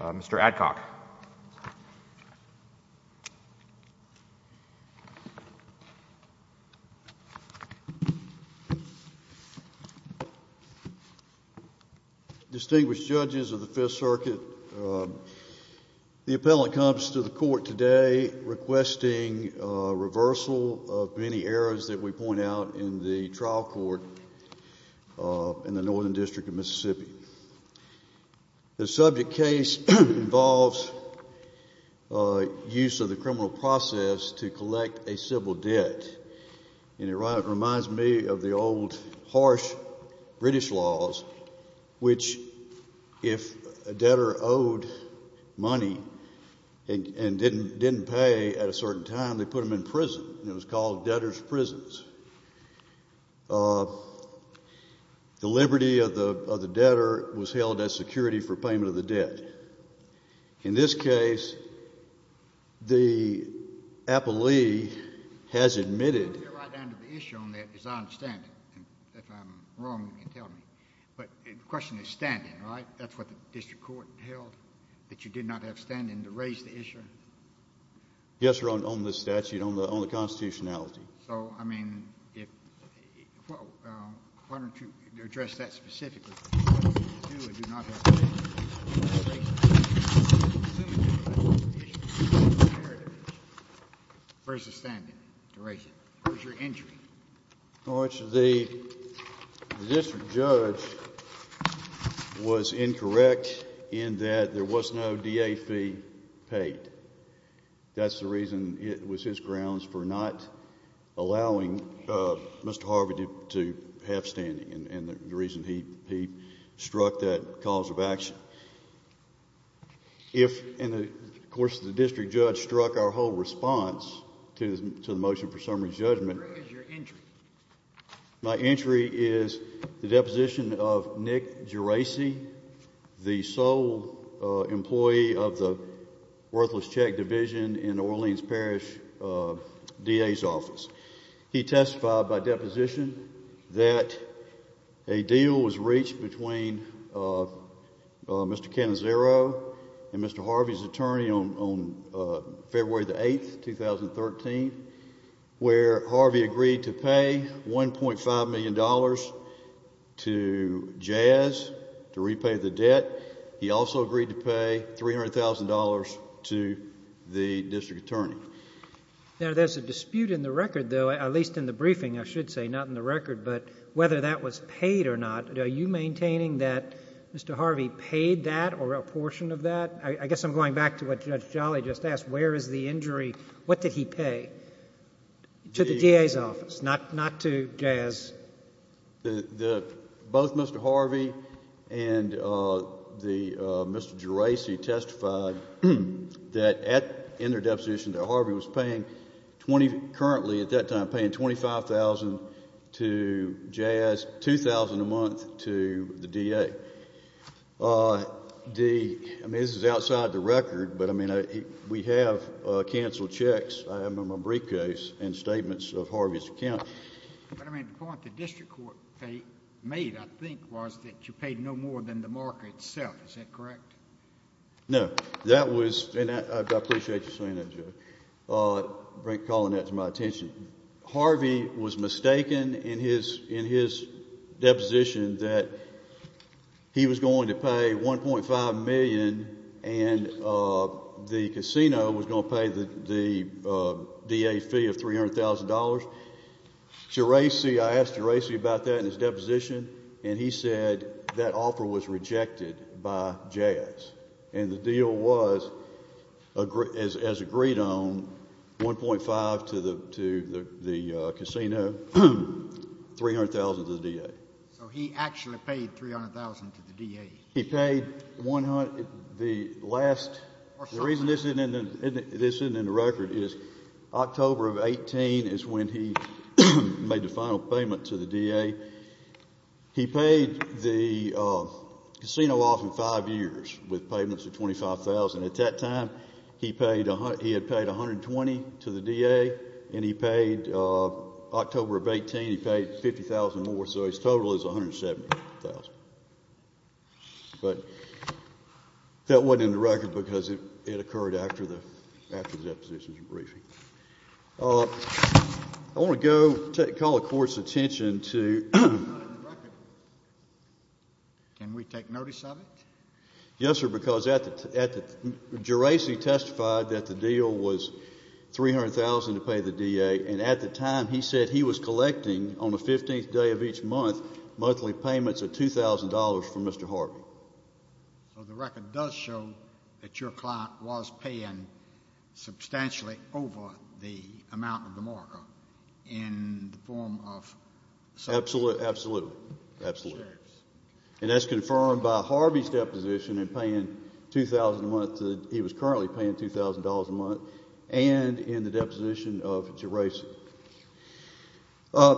Mr. Adcock. Distinguished judges of the Fifth Circuit, the appellant comes to the court today requesting a reversal of many errors that we point out in the trial court in the Northern District of Mississippi. The subject case involves use of the criminal process to collect a civil debt. It reminds me of the old harsh British laws, which if a debtor owed money and didn't pay at a certain time, they put him in prison. It was called debtor's prisons. The liberty of the debtor was held as security for payment of the debt. In this case, the appellee has admitted... I'll get right down to the issue on that because I understand it. If I'm wrong, you can tell me. But the question is standing, right? That's what the district court held, that you did not have standing to raise the issue? Yes, Your Honor, on the statute, on the constitutionality. So, I mean, if... Why don't you address that specifically? You do or do not have standing to raise the issue? Where's the standing to raise it? Where's your injury? The district judge was incorrect in that there was no DA fee paid. That's the reason it was his grounds for not allowing Mr. Harvey to have standing and the reason he struck that cause of action. If... and, of course, the district judge struck our whole response to the motion for summary judgment. Where is your injury? My injury is the deposition of Nick Geraci, the sole employee of the worthless check division in Orleans Parish DA's office. He testified by deposition that a deal was reached between Mr. Cannizzaro and Mr. Harvey's attorney on February the 8th, 2013, where Harvey agreed to pay $1.5 million to Jazz to repay the debt. He also agreed to pay $300,000 to the district attorney. Now, there's a dispute in the record, though, at least in the briefing, I should say, not in the record, but whether that was paid or not. Are you maintaining that Mr. Harvey paid that or a portion of that? I guess I'm going back to what Judge Jolly just asked. Where is the injury? What did he pay to the DA's office, not to Jazz? Both Mr. Harvey and Mr. Geraci testified that in their deposition that Harvey was paying, currently at that time, paying $25,000 to Jazz, $2,000 a month to the DA. I mean, this is outside the record, but, I mean, we have canceled checks. I remember briefcase and statements of Harvey's account. But, I mean, the point the district court made, I think, was that you paid no more than the market itself. Is that correct? No. That was, and I appreciate you saying that, Judge, calling that to my attention. Harvey was mistaken in his deposition that he was going to pay $1.5 million and the casino was going to pay the DA fee of $300,000. Geraci, I asked Geraci about that in his deposition, and he said that offer was rejected by Jazz. And the deal was, as agreed on, $1.5 to the casino, $300,000 to the DA. So he actually paid $300,000 to the DA? He paid the last, the reason this isn't in the record is October of 2018 is when he made the final payment to the DA. He paid the casino off in five years with payments of $25,000. At that time, he had paid $120,000 to the DA, and he paid October of 2018, he paid $50,000 more. So his total is $170,000. But that wasn't in the record because it occurred after the deposition's briefing. I want to go call the Court's attention to the record. Can we take notice of it? Yes, sir, because Geraci testified that the deal was $300,000 to pay the DA, and at the time he said he was collecting on the 15th day of each month monthly payments of $2,000 from Mr. Harvey. So the record does show that your client was paying substantially over the amount of the market in the form of some shares? Absolutely. And that's confirmed by Harvey's deposition in paying $2,000 a month. He was currently paying $2,000 a month and in the deposition of Geraci. I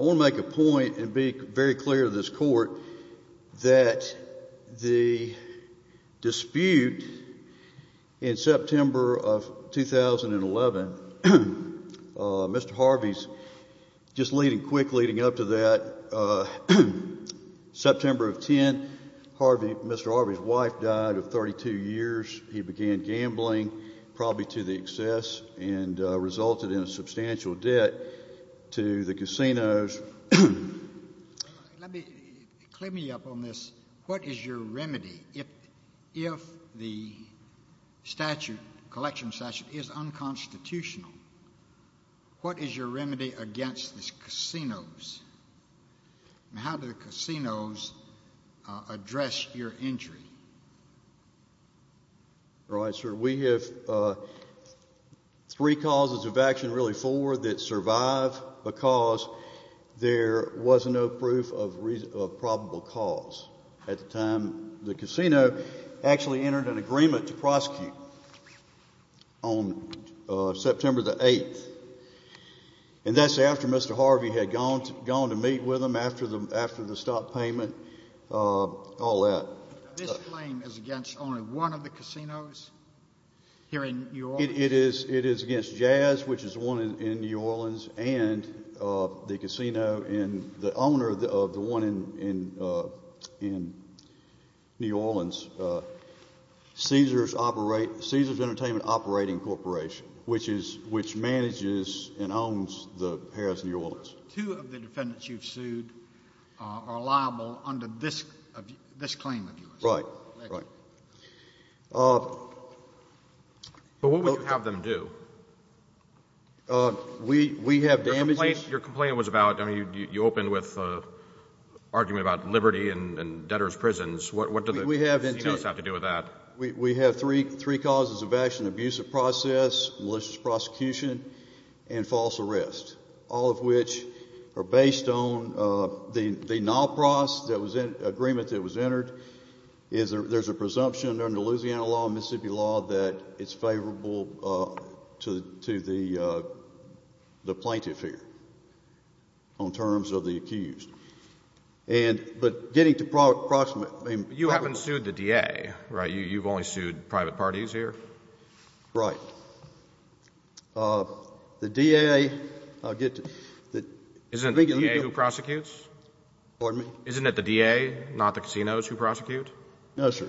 want to make a point and be very clear to this Court that the dispute in September of 2011, Mr. Harvey's just leading up to that, September of 10, Mr. Harvey's wife died of 32 years. He began gambling, probably to the excess, and resulted in a substantial debt to the casinos. Let me clear me up on this. What is your remedy if the statute, collection statute, is unconstitutional? And how do the casinos address your injury? Right, sir. We have three causes of action, really four, that survive because there was no proof of probable cause at the time. The casino actually entered an agreement to prosecute on September the 8th, and that's after Mr. Harvey had gone to meet with them after the stock payment, all that. This claim is against only one of the casinos here in New Orleans? It is against Jazz, which is one in New Orleans, and the casino and the owner of the one in New Orleans, Caesars Entertainment Operating Corporation, which manages and owns the Paris New Orleans. Two of the defendants you've sued are liable under this claim of yours? Right, right. But what would you have them do? We have damages. Your complaint was about, I mean, you opened with an argument about liberty and debtors' prisons. What do the casinos have to do with that? We have three causes of action, abusive process, malicious prosecution, and false arrest, all of which are based on the NALPROS agreement that was entered. There's a presumption under Louisiana law and Mississippi law that it's favorable to the plaintiff here on terms of the accused. But getting to proximate, I mean— You haven't sued the DA, right? You've only sued private parties here? Right. The DA, I'll get to— Isn't the DA who prosecutes? Pardon me? Isn't it the DA, not the casinos, who prosecute? No, sir.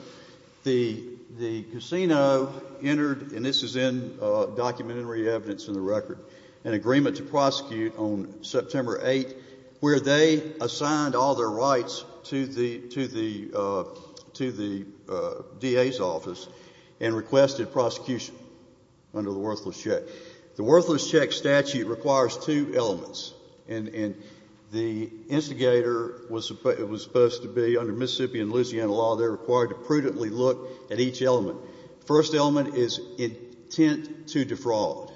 The casino entered, and this is in documentary evidence in the record, an agreement to prosecute on September 8th, where they assigned all their rights to the DA's office and requested prosecution under the worthless check. The worthless check statute requires two elements. And the instigator was supposed to be, under Mississippi and Louisiana law, they're required to prudently look at each element. The first element is intent to defraud.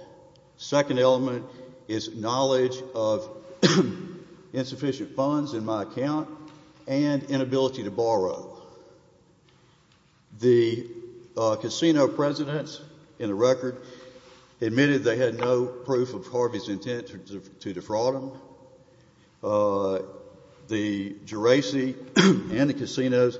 The second element is knowledge of insufficient funds in my account and inability to borrow. The casino presidents in the record admitted they had no proof of Harvey's intent to defraud him. The Geraci and the casinos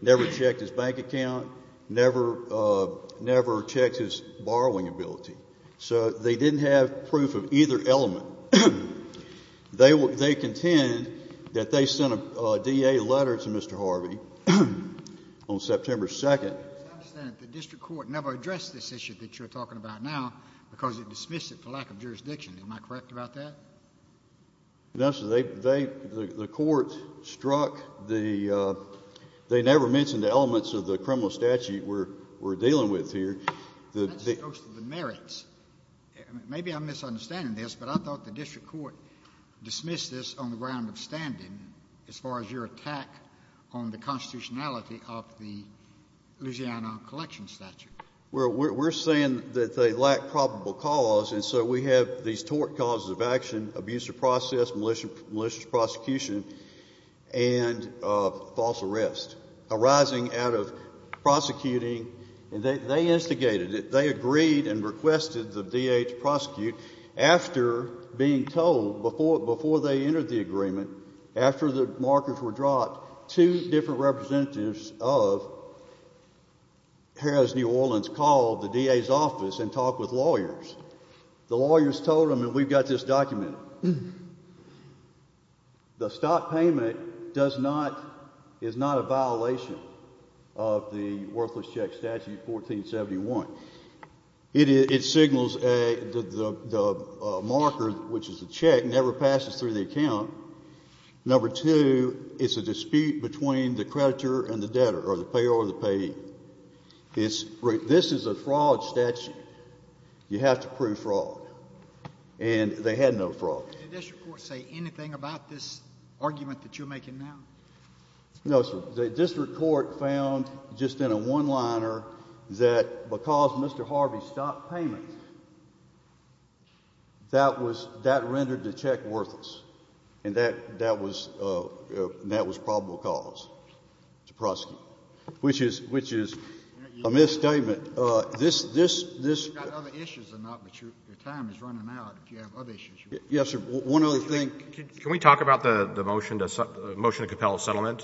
never checked his bank account, never checked his borrowing ability. So they didn't have proof of either element. They contend that they sent a DA letter to Mr. Harvey on September 2nd. I understand that the district court never addressed this issue that you're talking about now because it dismissed it for lack of jurisdiction. Am I correct about that? No, sir. They—the court struck the—they never mentioned the elements of the criminal statute we're dealing with here. That goes to the merits. Maybe I'm misunderstanding this, but I thought the district court dismissed this on the ground of standing as far as your attack on the constitutionality of the Louisiana collection statute. Well, we're saying that they lack probable cause, and so we have these tort causes of action, abuse of process, malicious prosecution, and false arrest arising out of prosecuting. And they instigated it. They agreed and requested the DA to prosecute. After being told, before they entered the agreement, after the markers were dropped, two different representatives of Harris New Orleans called the DA's office and talked with lawyers. The lawyers told them, and we've got this documented. The stock payment does not—is not a violation of the worthless check statute 1471. It signals a—the marker, which is the check, never passes through the account. Number two, it's a dispute between the creditor and the debtor or the payer or the payee. It's—this is a fraud statute. You have to prove fraud. And they had no fraud. Did the district court say anything about this argument that you're making now? No, sir. The district court found just in a one-liner that because Mr. Harvey stopped payment, that was—that rendered the check worthless. And that—that was—that was probable cause to prosecute, which is—which is a misstatement. You've got other issues or not, but your time is running out if you have other issues. Yes, sir. One other thing. Can we talk about the motion to compel a settlement?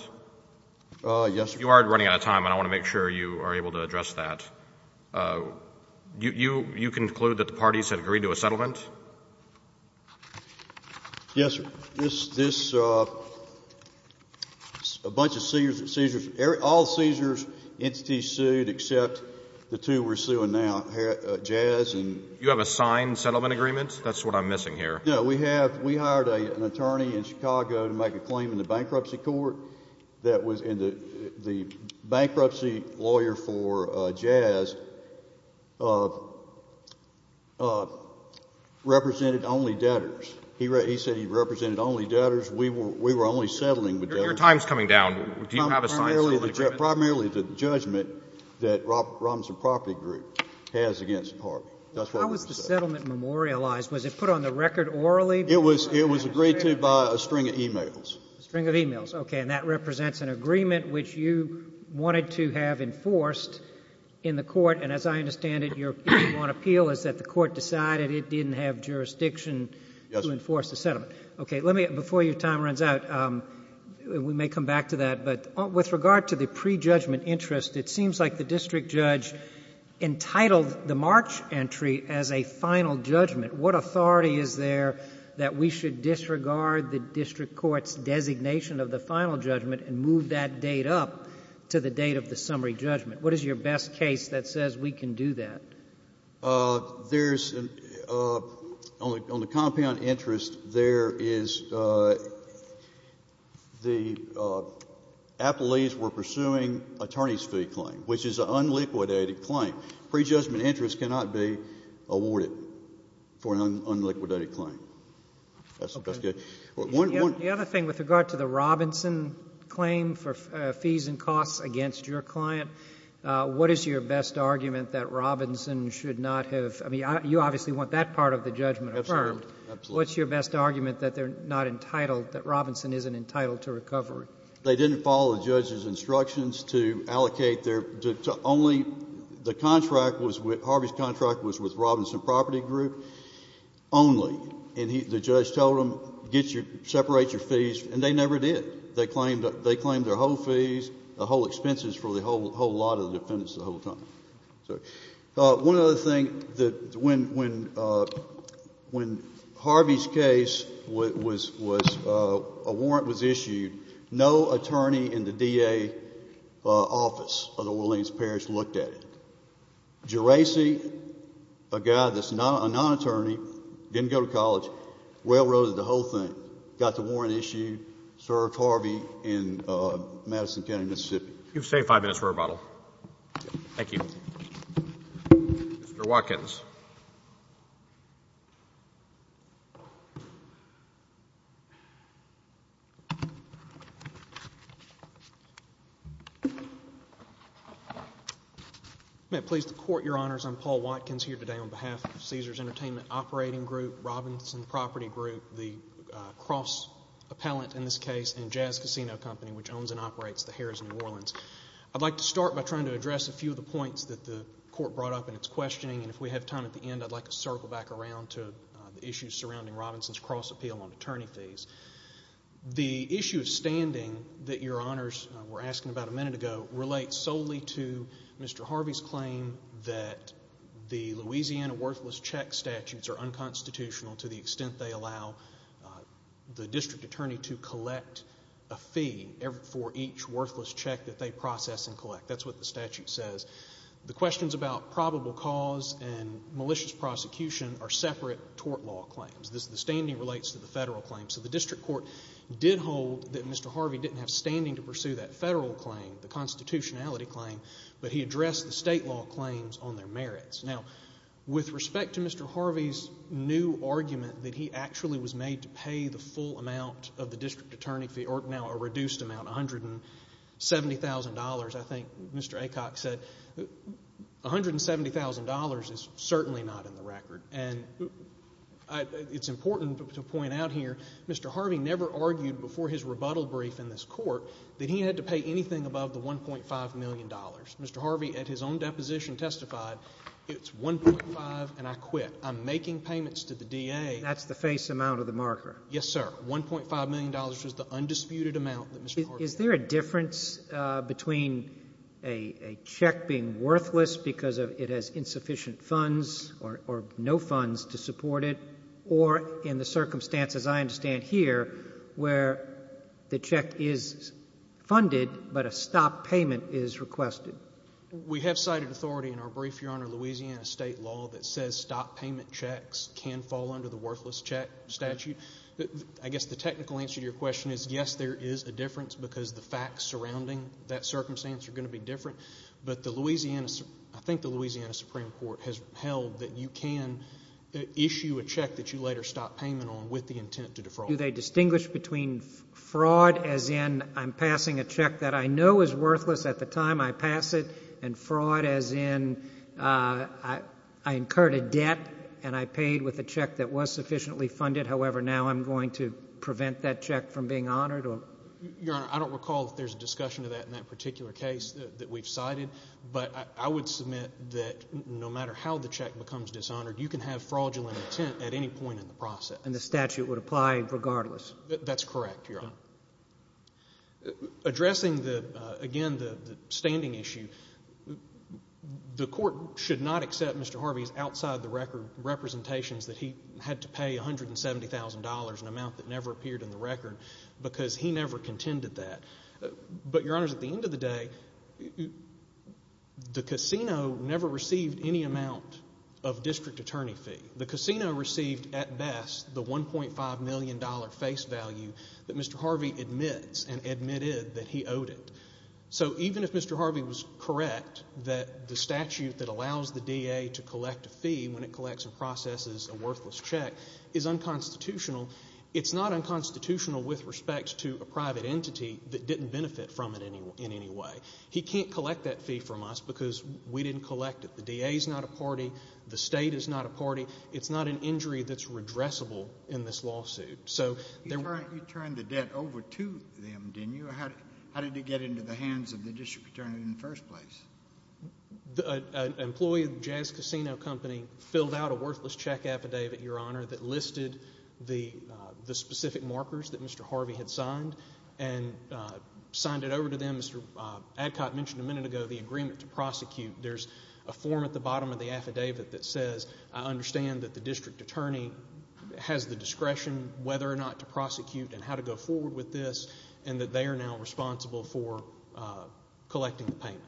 Yes, sir. You are running out of time, and I want to make sure you are able to address that. You conclude that the parties have agreed to a settlement? Yes, sir. This—this—a bunch of seizures—all seizures entities sued except the two we're suing now, Jazz and— You have a signed settlement agreement? That's what I'm missing here. No, we have—we hired an attorney in Chicago to make a claim in the bankruptcy court that was in the—the bankruptcy lawyer for Jazz represented only debtors. He said he represented only debtors. We were—we were only settling with debtors. Your time is coming down. Do you have a signed settlement agreement? Primarily the judgment that Robinson Property Group has against Harvey. That's what we said. How was the settlement memorialized? Was it put on the record orally? It was—it was agreed to by a string of e-mails. A string of e-mails. Okay. And that represents an agreement which you wanted to have enforced in the court. And as I understand it, your appeal is that the court decided it didn't have jurisdiction. Yes. To enforce the settlement. Okay. Let me—before your time runs out, we may come back to that, but with regard to the pre-judgment interest, it seems like the district judge entitled the March entry as a final judgment. What authority is there that we should disregard the district court's designation of the final judgment and move that date up to the date of the summary judgment? What is your best case that says we can do that? There's—on the compound interest, there is—the appellees were pursuing attorney's fee claim, which is an unliquidated claim. Pre-judgment interest cannot be awarded for an unliquidated claim. Okay. That's good. The other thing with regard to the Robinson claim for fees and costs against your client, what is your best argument that Robinson should not have—I mean, you obviously want that part of the judgment affirmed. Absolutely. Absolutely. What's your best argument that they're not entitled, that Robinson isn't entitled to recovery? They didn't follow the judge's instructions to allocate their—only the contract was with—Harvey's contract was with Robinson Property Group only. And the judge told them, get your—separate your fees, and they never did. They claimed—they claimed their whole fees, the whole expenses for the whole lot of the defendants the whole time. So one other thing that when—when Harvey's case was—a warrant was issued, no attorney in the DA office of the Williams Parish looked at it. Geraci, a guy that's a non-attorney, didn't go to college, railroaded the whole thing, got the warrant issued, served Harvey in Madison County, Mississippi. You've saved five minutes for rebuttal. Thank you. Mr. Watkins. May it please the Court, Your Honors, I'm Paul Watkins here today on behalf of Caesars Entertainment Operating Group, Robinson Property Group, the cross-appellant in this case, and Jazz Casino Company, which owns and operates the Harrah's New Orleans. I'd like to start by trying to address a few of the points that the Court brought up in its questioning, and if we have time at the end, I'd like to circle back around to the issues surrounding Robinson's cross-appeal on attorney fees. The issue of standing that Your Honors were asking about a minute ago relates solely to Mr. Harvey's claim that the Louisiana worthless check statutes are unconstitutional to the extent they allow the district attorney to collect a fee for each worthless check that they process and collect. That's what the statute says. The questions about probable cause and malicious prosecution are separate tort law claims. The standing relates to the federal claim. So the district court did hold that Mr. Harvey didn't have standing to pursue that federal claim, the constitutionality claim, but he addressed the state law claims on their merits. Now, with respect to Mr. Harvey's new argument that he actually was made to pay the full amount of the district attorney fee, or now a reduced amount, $170,000, I think Mr. Aycock said, $170,000 is certainly not in the record. And it's important to point out here Mr. Harvey never argued before his rebuttal brief in this Court that he had to pay anything above the $1.5 million. Mr. Harvey at his own deposition testified, it's 1.5 and I quit. I'm making payments to the DA. That's the face amount of the marker. Yes, sir. $1.5 million was the undisputed amount that Mr. Harvey paid. Is there a difference between a check being worthless because it has insufficient funds or no funds to support it, or in the circumstances I understand here where the check is funded but a stop payment is requested? We have cited authority in our brief, Your Honor, Louisiana state law that says stop payment checks can fall under the worthless check statute. I guess the technical answer to your question is yes, there is a difference because the facts surrounding that circumstance are going to be different. But I think the Louisiana Supreme Court has held that you can issue a check that you later stop payment on with the intent to defraud. Do they distinguish between fraud as in I'm passing a check that I know is worthless at the time I pass it and fraud as in I incurred a debt and I paid with a check that was sufficiently funded, however now I'm going to prevent that check from being honored? Your Honor, I don't recall if there's a discussion of that in that particular case that we've cited, but I would submit that no matter how the check becomes dishonored, you can have fraudulent intent at any point in the process. And the statute would apply regardless? That's correct, Your Honor. Addressing again the standing issue, the court should not accept Mr. Harvey's outside-the-record representations that he had to pay $170,000, an amount that never appeared in the record, because he never contended that. But, Your Honor, at the end of the day, the casino never received any amount of district attorney fee. The casino received at best the $1.5 million face value that Mr. Harvey admits and admitted that he owed it. So even if Mr. Harvey was correct that the statute that allows the DA to collect a fee when it collects and processes a worthless check is unconstitutional, it's not unconstitutional with respect to a private entity that didn't benefit from it in any way. He can't collect that fee from us because we didn't collect it. The DA is not a party. The State is not a party. It's not an injury that's redressable in this lawsuit. You turned the debt over to them, didn't you? How did it get into the hands of the district attorney in the first place? An employee of the Jazz Casino Company filled out a worthless check affidavit, Your Honor, that listed the specific markers that Mr. Harvey had signed and signed it over to them. Mr. Adcock mentioned a minute ago the agreement to prosecute. There's a form at the bottom of the affidavit that says, I understand that the district attorney has the discretion whether or not to prosecute and how to go forward with this and that they are now responsible for collecting the payment.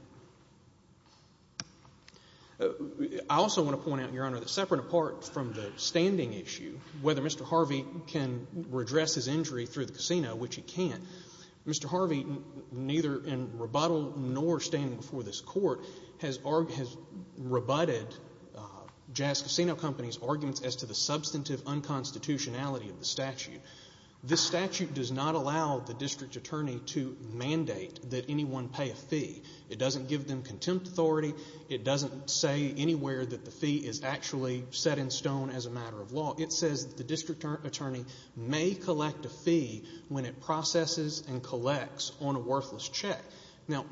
I also want to point out, Your Honor, that separate and apart from the standing issue, whether Mr. Harvey can redress his injury through the casino, which he can't, Mr. Harvey, neither in rebuttal nor standing before this court, has rebutted Jazz Casino Company's arguments as to the substantive unconstitutionality of the statute. This statute does not allow the district attorney to mandate that anyone pay a fee. It doesn't give them contempt authority. It doesn't say anywhere that the fee is actually set in stone as a matter of law. It says the district attorney may collect a fee when it processes and collects on a worthless check. Now,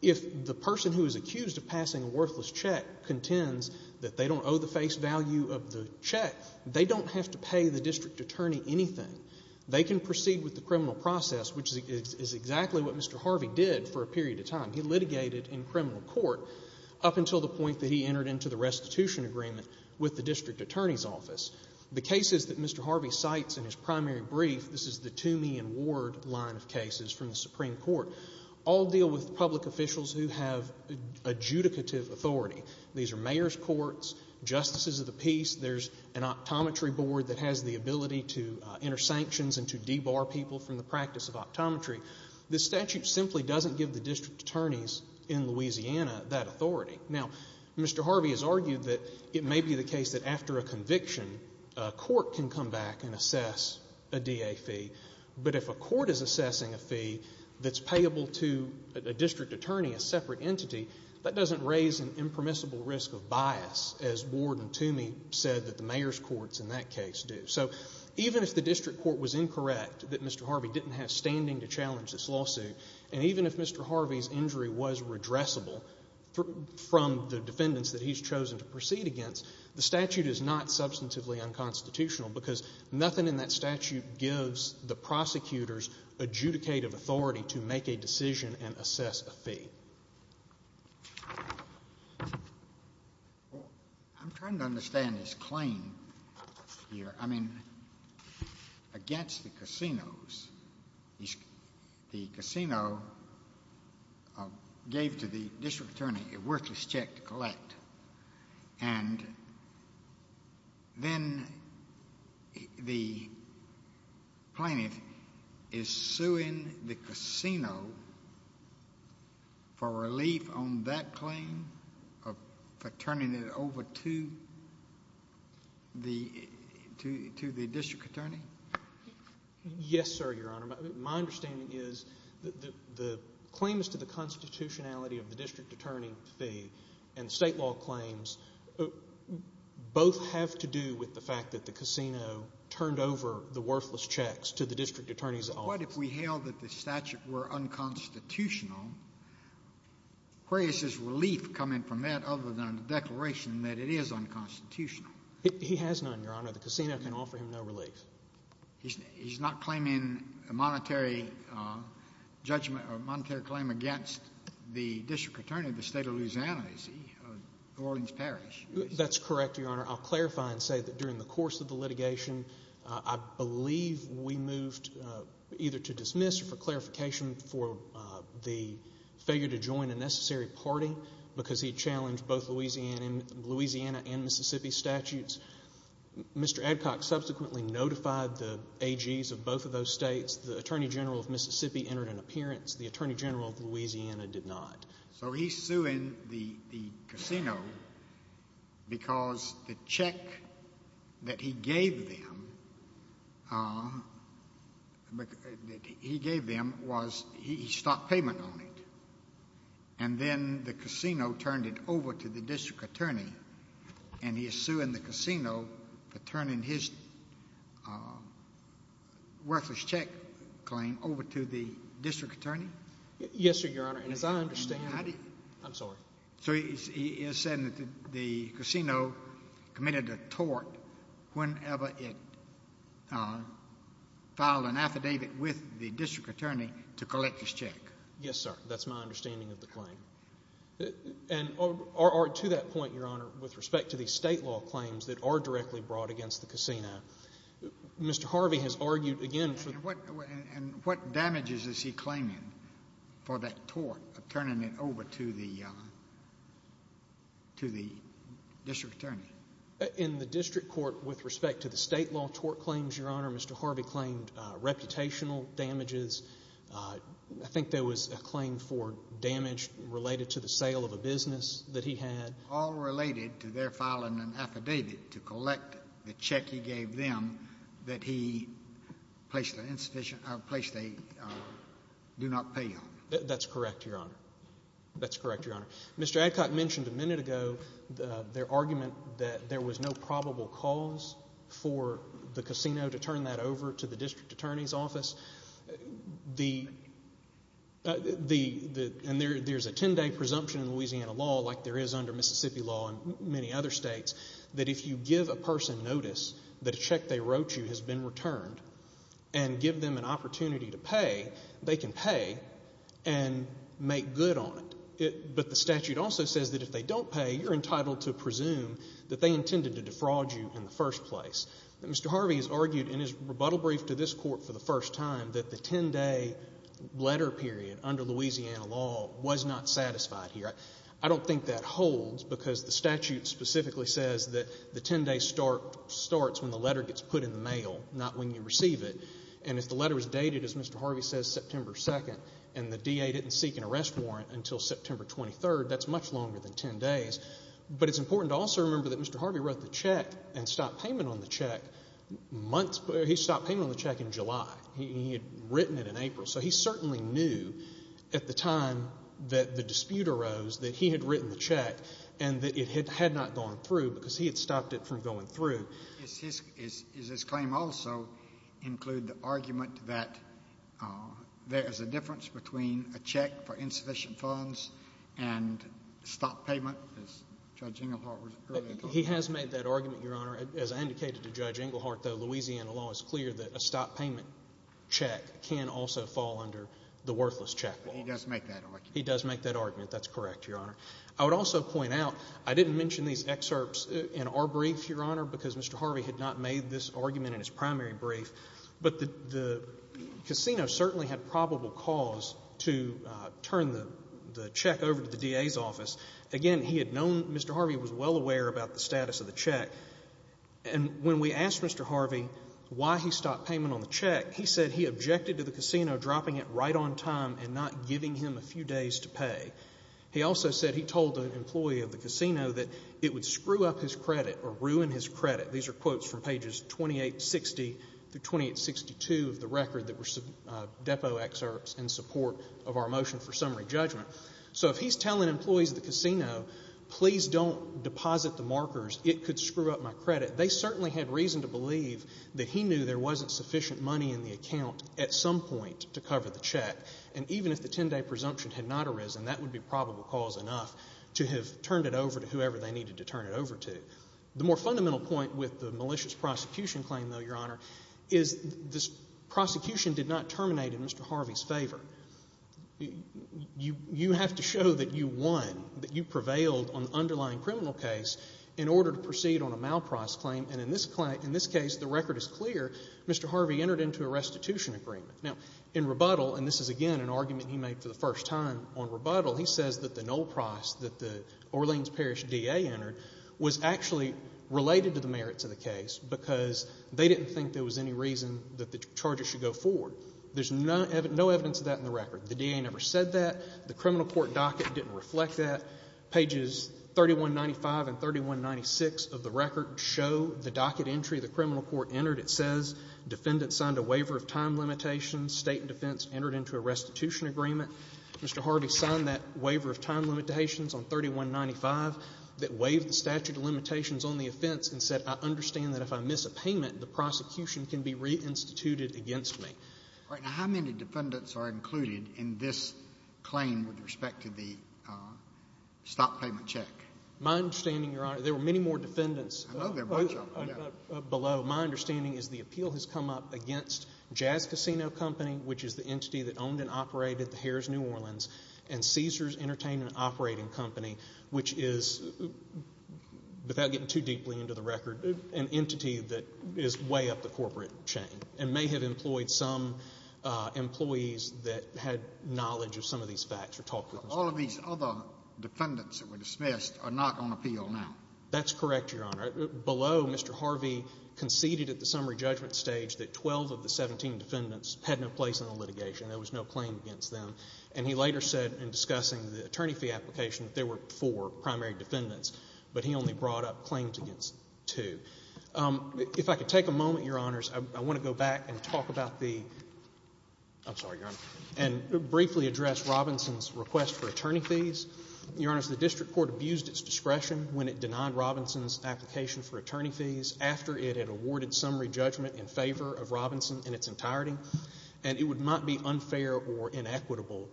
if the person who is accused of passing a worthless check contends that they don't owe the face value of the check, they don't have to pay the district attorney anything. They can proceed with the criminal process, which is exactly what Mr. Harvey did for a period of time. He litigated in criminal court up until the point that he entered into the restitution agreement with the district attorney's office. The cases that Mr. Harvey cites in his primary brief, this is the Toomey and Ward line of cases from the Supreme Court, all deal with public officials who have adjudicative authority. These are mayor's courts, justices of the peace. There's an optometry board that has the ability to enter sanctions and to debar people from the practice of optometry. This statute simply doesn't give the district attorneys in Louisiana that authority. Now, Mr. Harvey has argued that it may be the case that after a conviction, a court can come back and assess a DA fee, but if a court is assessing a fee that's payable to a district attorney, a separate entity, that doesn't raise an impermissible risk of bias, as Ward and Toomey said that the mayor's courts in that case do. So even if the district court was incorrect, that Mr. Harvey didn't have standing to challenge this lawsuit, and even if Mr. Harvey's injury was redressable from the defendants that he's chosen to proceed against, the statute is not substantively unconstitutional because nothing in that statute gives the prosecutors adjudicative authority to make a decision and assess a fee. I'm trying to understand this claim here. I mean, against the casinos, the casino gave to the district attorney a worthless check to collect, and then the plaintiff is suing the casino for relief on that claim, for turning it over to the district attorney? Yes, sir, Your Honor. My understanding is that the claims to the constitutionality of the district attorney fee and state law claims both have to do with the fact that the casino turned over the worthless checks to the district attorney's office. But what if we held that the statute were unconstitutional? Where is his relief coming from that other than the declaration that it is unconstitutional? He has none, Your Honor. The casino can offer him no relief. He's not claiming a monetary judgment or monetary claim against the district attorney of the State of Louisiana, is he, of Orleans Parish? That's correct, Your Honor. I'll clarify and say that during the course of the litigation, I believe we moved either to dismiss or for clarification for the failure to join a necessary party because he challenged both Louisiana and Mississippi statutes. Mr. Adcock subsequently notified the AGs of both of those states. The Attorney General of Mississippi entered an appearance. The Attorney General of Louisiana did not. So he's suing the casino because the check that he gave them was he stopped payment on it, and then the casino turned it over to the district attorney, and he is suing the casino for turning his worthless check claim over to the district attorney? Yes, sir, Your Honor. And as I understand, I'm sorry. So he is saying that the casino committed a tort whenever it filed an affidavit with the district attorney to collect his check. Yes, sir. That's my understanding of the claim. And to that point, Your Honor, with respect to the state law claims that are directly brought against the casino, Mr. Harvey has argued again. And what damages is he claiming for that tort of turning it over to the district attorney? In the district court, with respect to the state law tort claims, Your Honor, Mr. Harvey claimed reputational damages. I think there was a claim for damage related to the sale of a business that he had. All related to their filing an affidavit to collect the check he gave them that he placed an insufficient place they do not pay on. That's correct, Your Honor. That's correct, Your Honor. Mr. Adcock mentioned a minute ago their argument that there was no probable cause for the casino to turn that over to the district attorney's office. And there's a 10-day presumption in Louisiana law, like there is under Mississippi law and many other states, that if you give a person notice that a check they wrote you has been returned and give them an opportunity to pay, they can pay and make good on it. But the statute also says that if they don't pay, you're entitled to presume that they intended to defraud you in the first place. Mr. Harvey has argued in his rebuttal brief to this court for the first time that the 10-day letter period under Louisiana law was not satisfied here. I don't think that holds because the statute specifically says that the 10-day starts when the letter gets put in the mail, not when you receive it. And if the letter is dated, as Mr. Harvey says, September 2nd, and the DA didn't seek an arrest warrant until September 23rd, that's much longer than 10 days. But it's important to also remember that Mr. Harvey wrote the check and stopped payment on the check in July. He had written it in April. So he certainly knew at the time that the dispute arose that he had written the check and that it had not gone through because he had stopped it from going through. Does his claim also include the argument that there is a difference between a check for insufficient funds and stop payment, as Judge Englehart was earlier talking about? He has made that argument, Your Honor. As I indicated to Judge Englehart, though, Louisiana law is clear that a stop payment check can also fall under the worthless check law. But he does make that argument. He does make that argument. That's correct, Your Honor. I would also point out I didn't mention these excerpts in our brief, Your Honor, because Mr. Harvey had not made this argument in his primary brief. But the casino certainly had probable cause to turn the check over to the DA's office. Again, he had known Mr. Harvey was well aware about the status of the check. And when we asked Mr. Harvey why he stopped payment on the check, he said he objected to the casino dropping it right on time and not giving him a few days to pay. He also said he told an employee of the casino that it would screw up his credit or ruin his credit. These are quotes from pages 2860 through 2862 of the record that were depo excerpts in support of our motion for summary judgment. So if he's telling employees of the casino, please don't deposit the markers, it could screw up my credit, they certainly had reason to believe that he knew there wasn't sufficient money in the account at some point to cover the check. And even if the 10-day presumption had not arisen, that would be probable cause enough to have turned it over to whoever they needed to turn it over to. The more fundamental point with the malicious prosecution claim, though, Your Honor, is this prosecution did not terminate in Mr. Harvey's favor. You have to show that you won, that you prevailed on the underlying criminal case in order to proceed on a malprice claim. And in this case, the record is clear, Mr. Harvey entered into a restitution agreement. Now, in rebuttal, and this is again an argument he made for the first time on rebuttal, he says that the no price that the Orleans Parish D.A. entered was actually related to the merits of the case because they didn't think there was any reason that the charges should go forward. There's no evidence of that in the record. The D.A. never said that. The criminal court docket didn't reflect that. Pages 3195 and 3196 of the record show the docket entry the criminal court entered. It says defendants signed a waiver of time limitations. State and defense entered into a restitution agreement. Mr. Harvey signed that waiver of time limitations on 3195 that waived the statute of limitations on the offense and said I understand that if I miss a payment, the prosecution can be reinstituted against me. All right. Now, how many defendants are included in this claim with respect to the stop payment check? My understanding, Your Honor, there were many more defendants. I know there were a bunch of them. Below, my understanding is the appeal has come up against Jazz Casino Company, which is the entity that owned and operated the Harrah's New Orleans, and Caesar's Entertainment Operating Company, which is, without getting too deeply into the record, an entity that is way up the corporate chain and may have employed some employees that had knowledge of some of these facts or talked with them. All of these other defendants that were dismissed are not on appeal now. That's correct, Your Honor. Below, Mr. Harvey conceded at the summary judgment stage that 12 of the 17 defendants had no place in the litigation. There was no claim against them. And he later said in discussing the attorney fee application that there were four primary defendants, but he only brought up claims against two. If I could take a moment, Your Honors, I want to go back and talk about the – I'm sorry, Your Honor – and briefly address Robinson's request for attorney fees. Your Honors, the district court abused its discretion when it denied Robinson's application for attorney fees after it had awarded summary judgment in favor of Robinson in its entirety, and it might be unfair or inequitable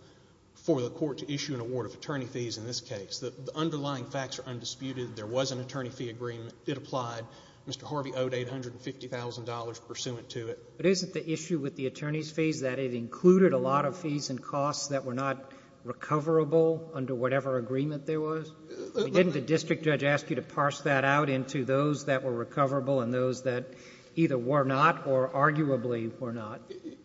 for the court to issue an award of attorney fees in this case. The underlying facts are undisputed. There was an attorney fee agreement. It applied. Mr. Harvey owed $850,000 pursuant to it. But isn't the issue with the attorney's fees that it included a lot of fees and costs that were not recoverable under whatever agreement there was? Didn't the district judge ask you to parse that out into those that were recoverable and those that either were not or arguably were not?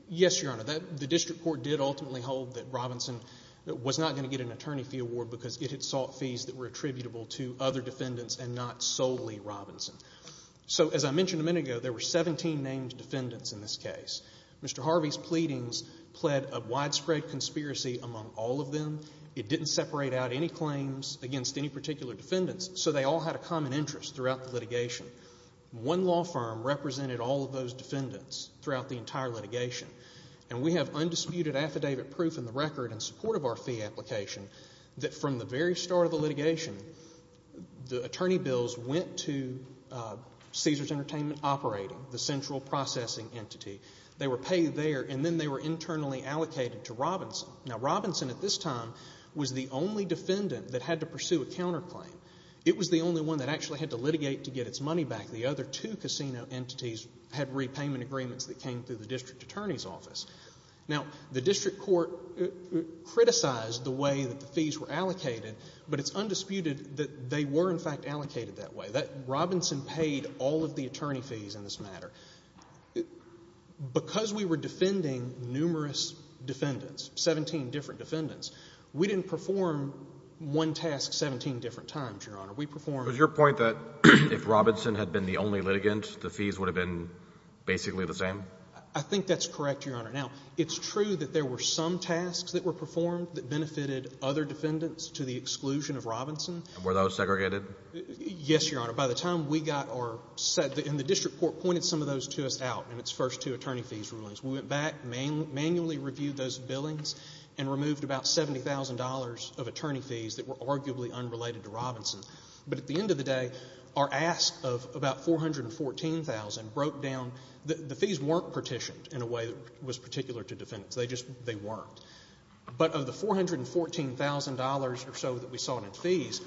Yes, Your Honor. The district court did ultimately hold that Robinson was not going to get an attorney fee award because it had sought fees that were attributable to other defendants and not solely Robinson. So as I mentioned a minute ago, there were 17 named defendants in this case. Mr. Harvey's pleadings pled a widespread conspiracy among all of them. It didn't separate out any claims against any particular defendants, so they all had a common interest throughout the litigation. One law firm represented all of those defendants throughout the entire litigation, and we have undisputed affidavit proof in the record in support of our fee application that from the very start of the litigation, the attorney bills went to Caesars Entertainment Operating, the central processing entity. They were paid there, and then they were internally allocated to Robinson. Now, Robinson at this time was the only defendant that had to pursue a counterclaim. It was the only one that actually had to litigate to get its money back. The other two casino entities had repayment agreements that came through the district attorney's office. Now, the district court criticized the way that the fees were allocated, but it's undisputed that they were in fact allocated that way. Robinson paid all of the attorney fees in this matter. Because we were defending numerous defendants, 17 different defendants, we didn't perform one task 17 different times, Your Honor. We performed— Was your point that if Robinson had been the only litigant, the fees would have been basically the same? I think that's correct, Your Honor. Now, it's true that there were some tasks that were performed that benefited other defendants to the exclusion of Robinson. And were those segregated? Yes, Your Honor. By the time we got our—and the district court pointed some of those to us out in its first two attorney fees rulings. We went back, manually reviewed those billings, and removed about $70,000 of attorney fees that were arguably unrelated to Robinson. But at the end of the day, our ask of about $414,000 broke down. The fees weren't partitioned in a way that was particular to defendants. They just weren't. But of the $414,000 or so that we saw in fees,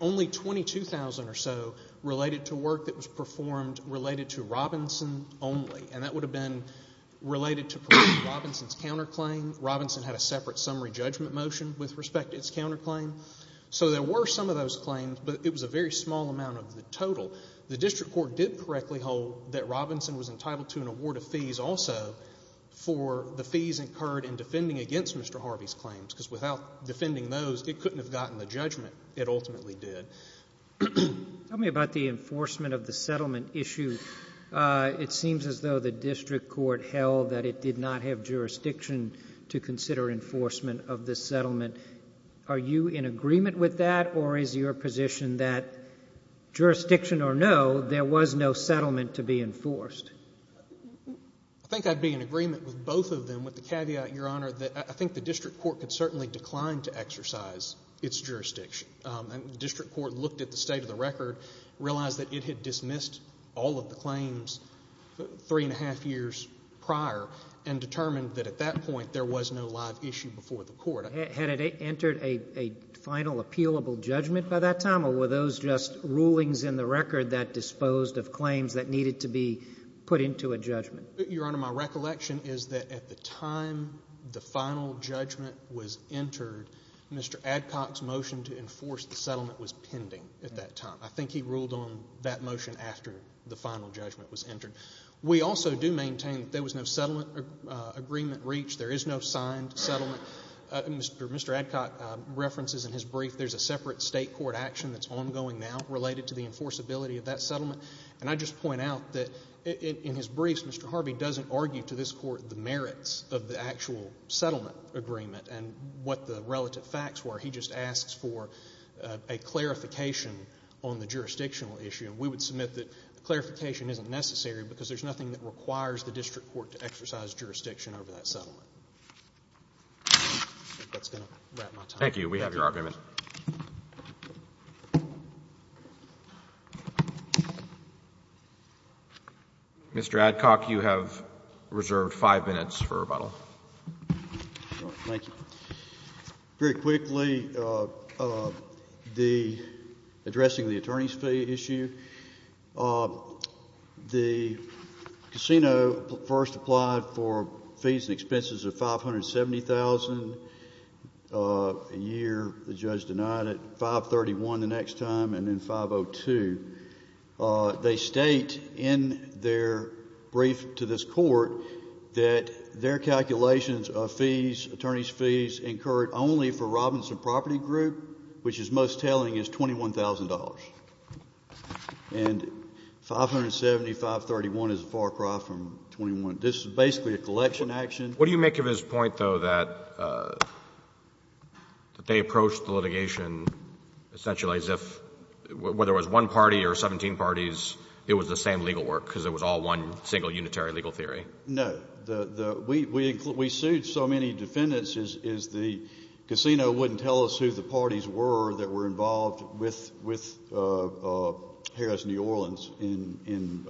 only $22,000 or so related to work that was performed related to Robinson only. And that would have been related to Robinson's counterclaim. Robinson had a separate summary judgment motion with respect to its counterclaim. So there were some of those claims, but it was a very small amount of the total. The district court did correctly hold that Robinson was entitled to an award of fees also for the fees incurred in defending against Mr. Harvey's claims, because without defending those, it couldn't have gotten the judgment. It ultimately did. Tell me about the enforcement of the settlement issue. It seems as though the district court held that it did not have jurisdiction to consider enforcement of this settlement. Are you in agreement with that, or is your position that jurisdiction or no, there was no settlement to be enforced? I think I'd be in agreement with both of them, with the caveat, Your Honor, that I think the district court could certainly decline to exercise its jurisdiction. The district court looked at the state of the record, realized that it had dismissed all of the claims three and a half years prior, and determined that at that point there was no live issue before the court. Had it entered a final appealable judgment by that time, or were those just rulings in the record that disposed of claims that needed to be put into a judgment? Your Honor, my recollection is that at the time the final judgment was entered, Mr. Adcock's motion to enforce the settlement was pending at that time. I think he ruled on that motion after the final judgment was entered. We also do maintain that there was no settlement agreement reached. There is no signed settlement. Mr. Adcock references in his brief there's a separate state court action that's ongoing now related to the enforceability of that settlement, and I just point out that in his briefs Mr. Harvey doesn't argue to this court the merits of the actual settlement agreement and what the relative facts were. He just asks for a clarification on the jurisdictional issue, and we would submit that the clarification isn't necessary because there's nothing that requires the district court to exercise jurisdiction over that settlement. I think that's going to wrap my time. Thank you. We have your argument. Mr. Adcock, you have reserved five minutes for rebuttal. Thank you. Very quickly, addressing the attorney's fee issue, the casino first applied for fees and expenses of $570,000 a year. The judge denied it. $531,000 the next time and then $502,000. They state in their brief to this court that their calculations of fees, attorney's fees incurred only for Robinson Property Group, which is most telling, is $21,000. And $570,000, $531,000 is a far cry from $21,000. This is basically a collection action. What do you make of his point, though, that they approached the litigation essentially as if, whether it was one party or 17 parties, it was the same legal work because it was all one single unitary legal theory? No. We sued so many defendants, the casino wouldn't tell us who the parties were that were involved with Harris New Orleans in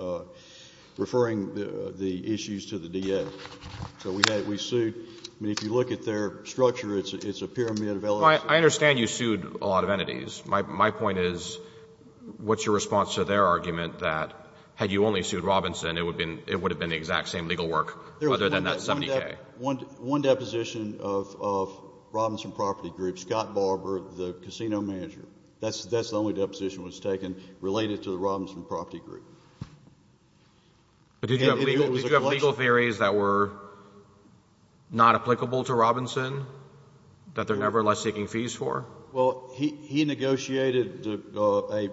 referring the issues to the DA. So we sued. I mean, if you look at their structure, it's a pyramid of LLCs. I understand you sued a lot of entities. My point is what's your response to their argument that had you only sued Robinson, it would have been the exact same legal work other than that $70,000? One deposition of Robinson Property Group, Scott Barber, the casino manager, that's the only deposition that was taken related to the Robinson Property Group. Did you have legal theories that were not applicable to Robinson that they're nevertheless taking fees for? Well, he negotiated a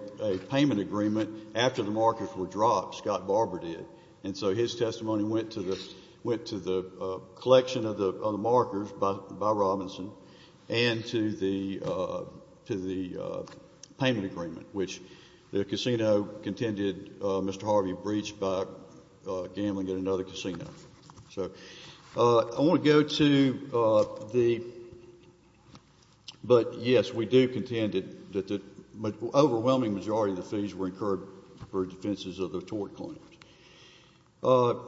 payment agreement after the markers were dropped, Scott Barber did, and so his testimony went to the collection of the markers by Robinson and to the payment agreement, which the casino contended Mr. Harvey breached by gambling at another casino. So I want to go to the, but yes, we do contend that the overwhelming majority of the fees were incurred for defenses of the tort claims. Could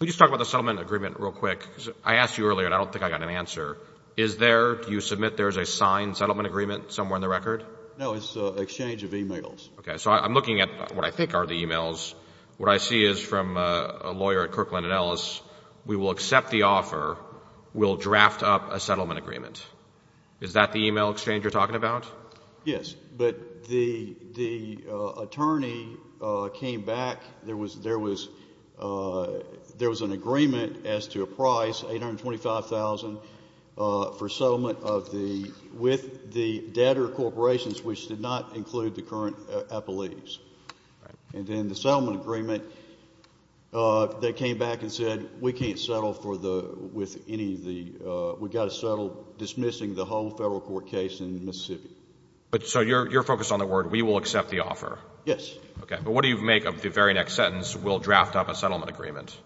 you talk about the settlement agreement real quick? I asked you earlier and I don't think I got an answer. Is there, do you submit there's a signed settlement agreement somewhere in the record? No, it's an exchange of e-mails. Okay. So I'm looking at what I think are the e-mails. What I see is from a lawyer at Kirkland & Ellis, we will accept the offer, we'll draft up a settlement agreement. Is that the e-mail exchange you're talking about? Yes. But the attorney came back. There was an agreement as to a price, $825,000, for settlement of the, with the debtor corporations, which did not include the current appellees. Right. And then the settlement agreement, they came back and said we can't settle for the, with any of the, we've got to settle dismissing the whole federal court case in Mississippi. But so you're focused on the word we will accept the offer? Yes. Okay. But what do you make of the very next sentence, we'll draft up a settlement agreement?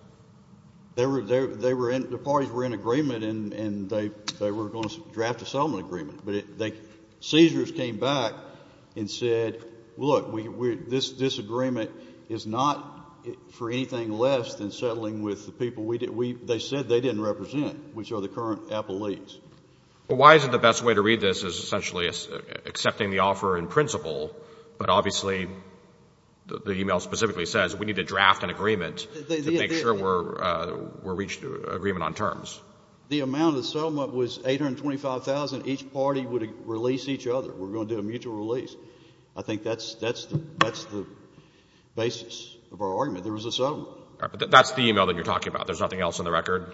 They were in, the parties were in agreement and they were going to draft a settlement agreement. But the seizures came back and said, look, this agreement is not for anything less than settling with the people we, they said they didn't represent, which are the current appellees. Well, why is it the best way to read this is essentially accepting the offer in principle, but obviously the e-mail specifically says we need to draft an agreement to make sure we're reaching agreement on terms. The amount of settlement was $825,000. Each party would release each other. We're going to do a mutual release. I think that's the basis of our argument. There was a settlement. That's the e-mail that you're talking about. There's nothing else on the record?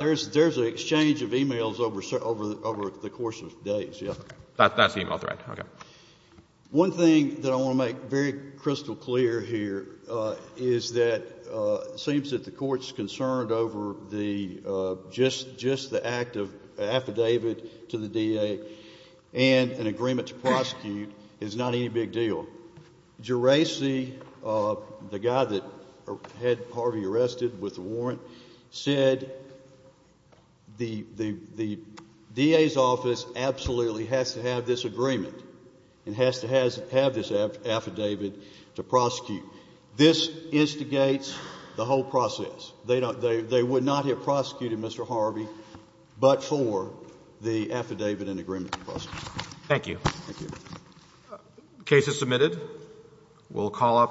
There's an exchange of e-mails over the course of days, yes. That's the e-mail thread. Okay. One thing that I want to make very crystal clear here is that it seems that the Court's concern over the, just the act of affidavit to the DA and an agreement to prosecute is not any big deal. Geraci, the guy that had Harvey arrested with the warrant, said the DA's office absolutely has to have this agreement and has to have this affidavit to prosecute. This instigates the whole process. They would not have prosecuted Mr. Harvey but for the affidavit and agreement to prosecute. Thank you. The case is submitted. We'll call up.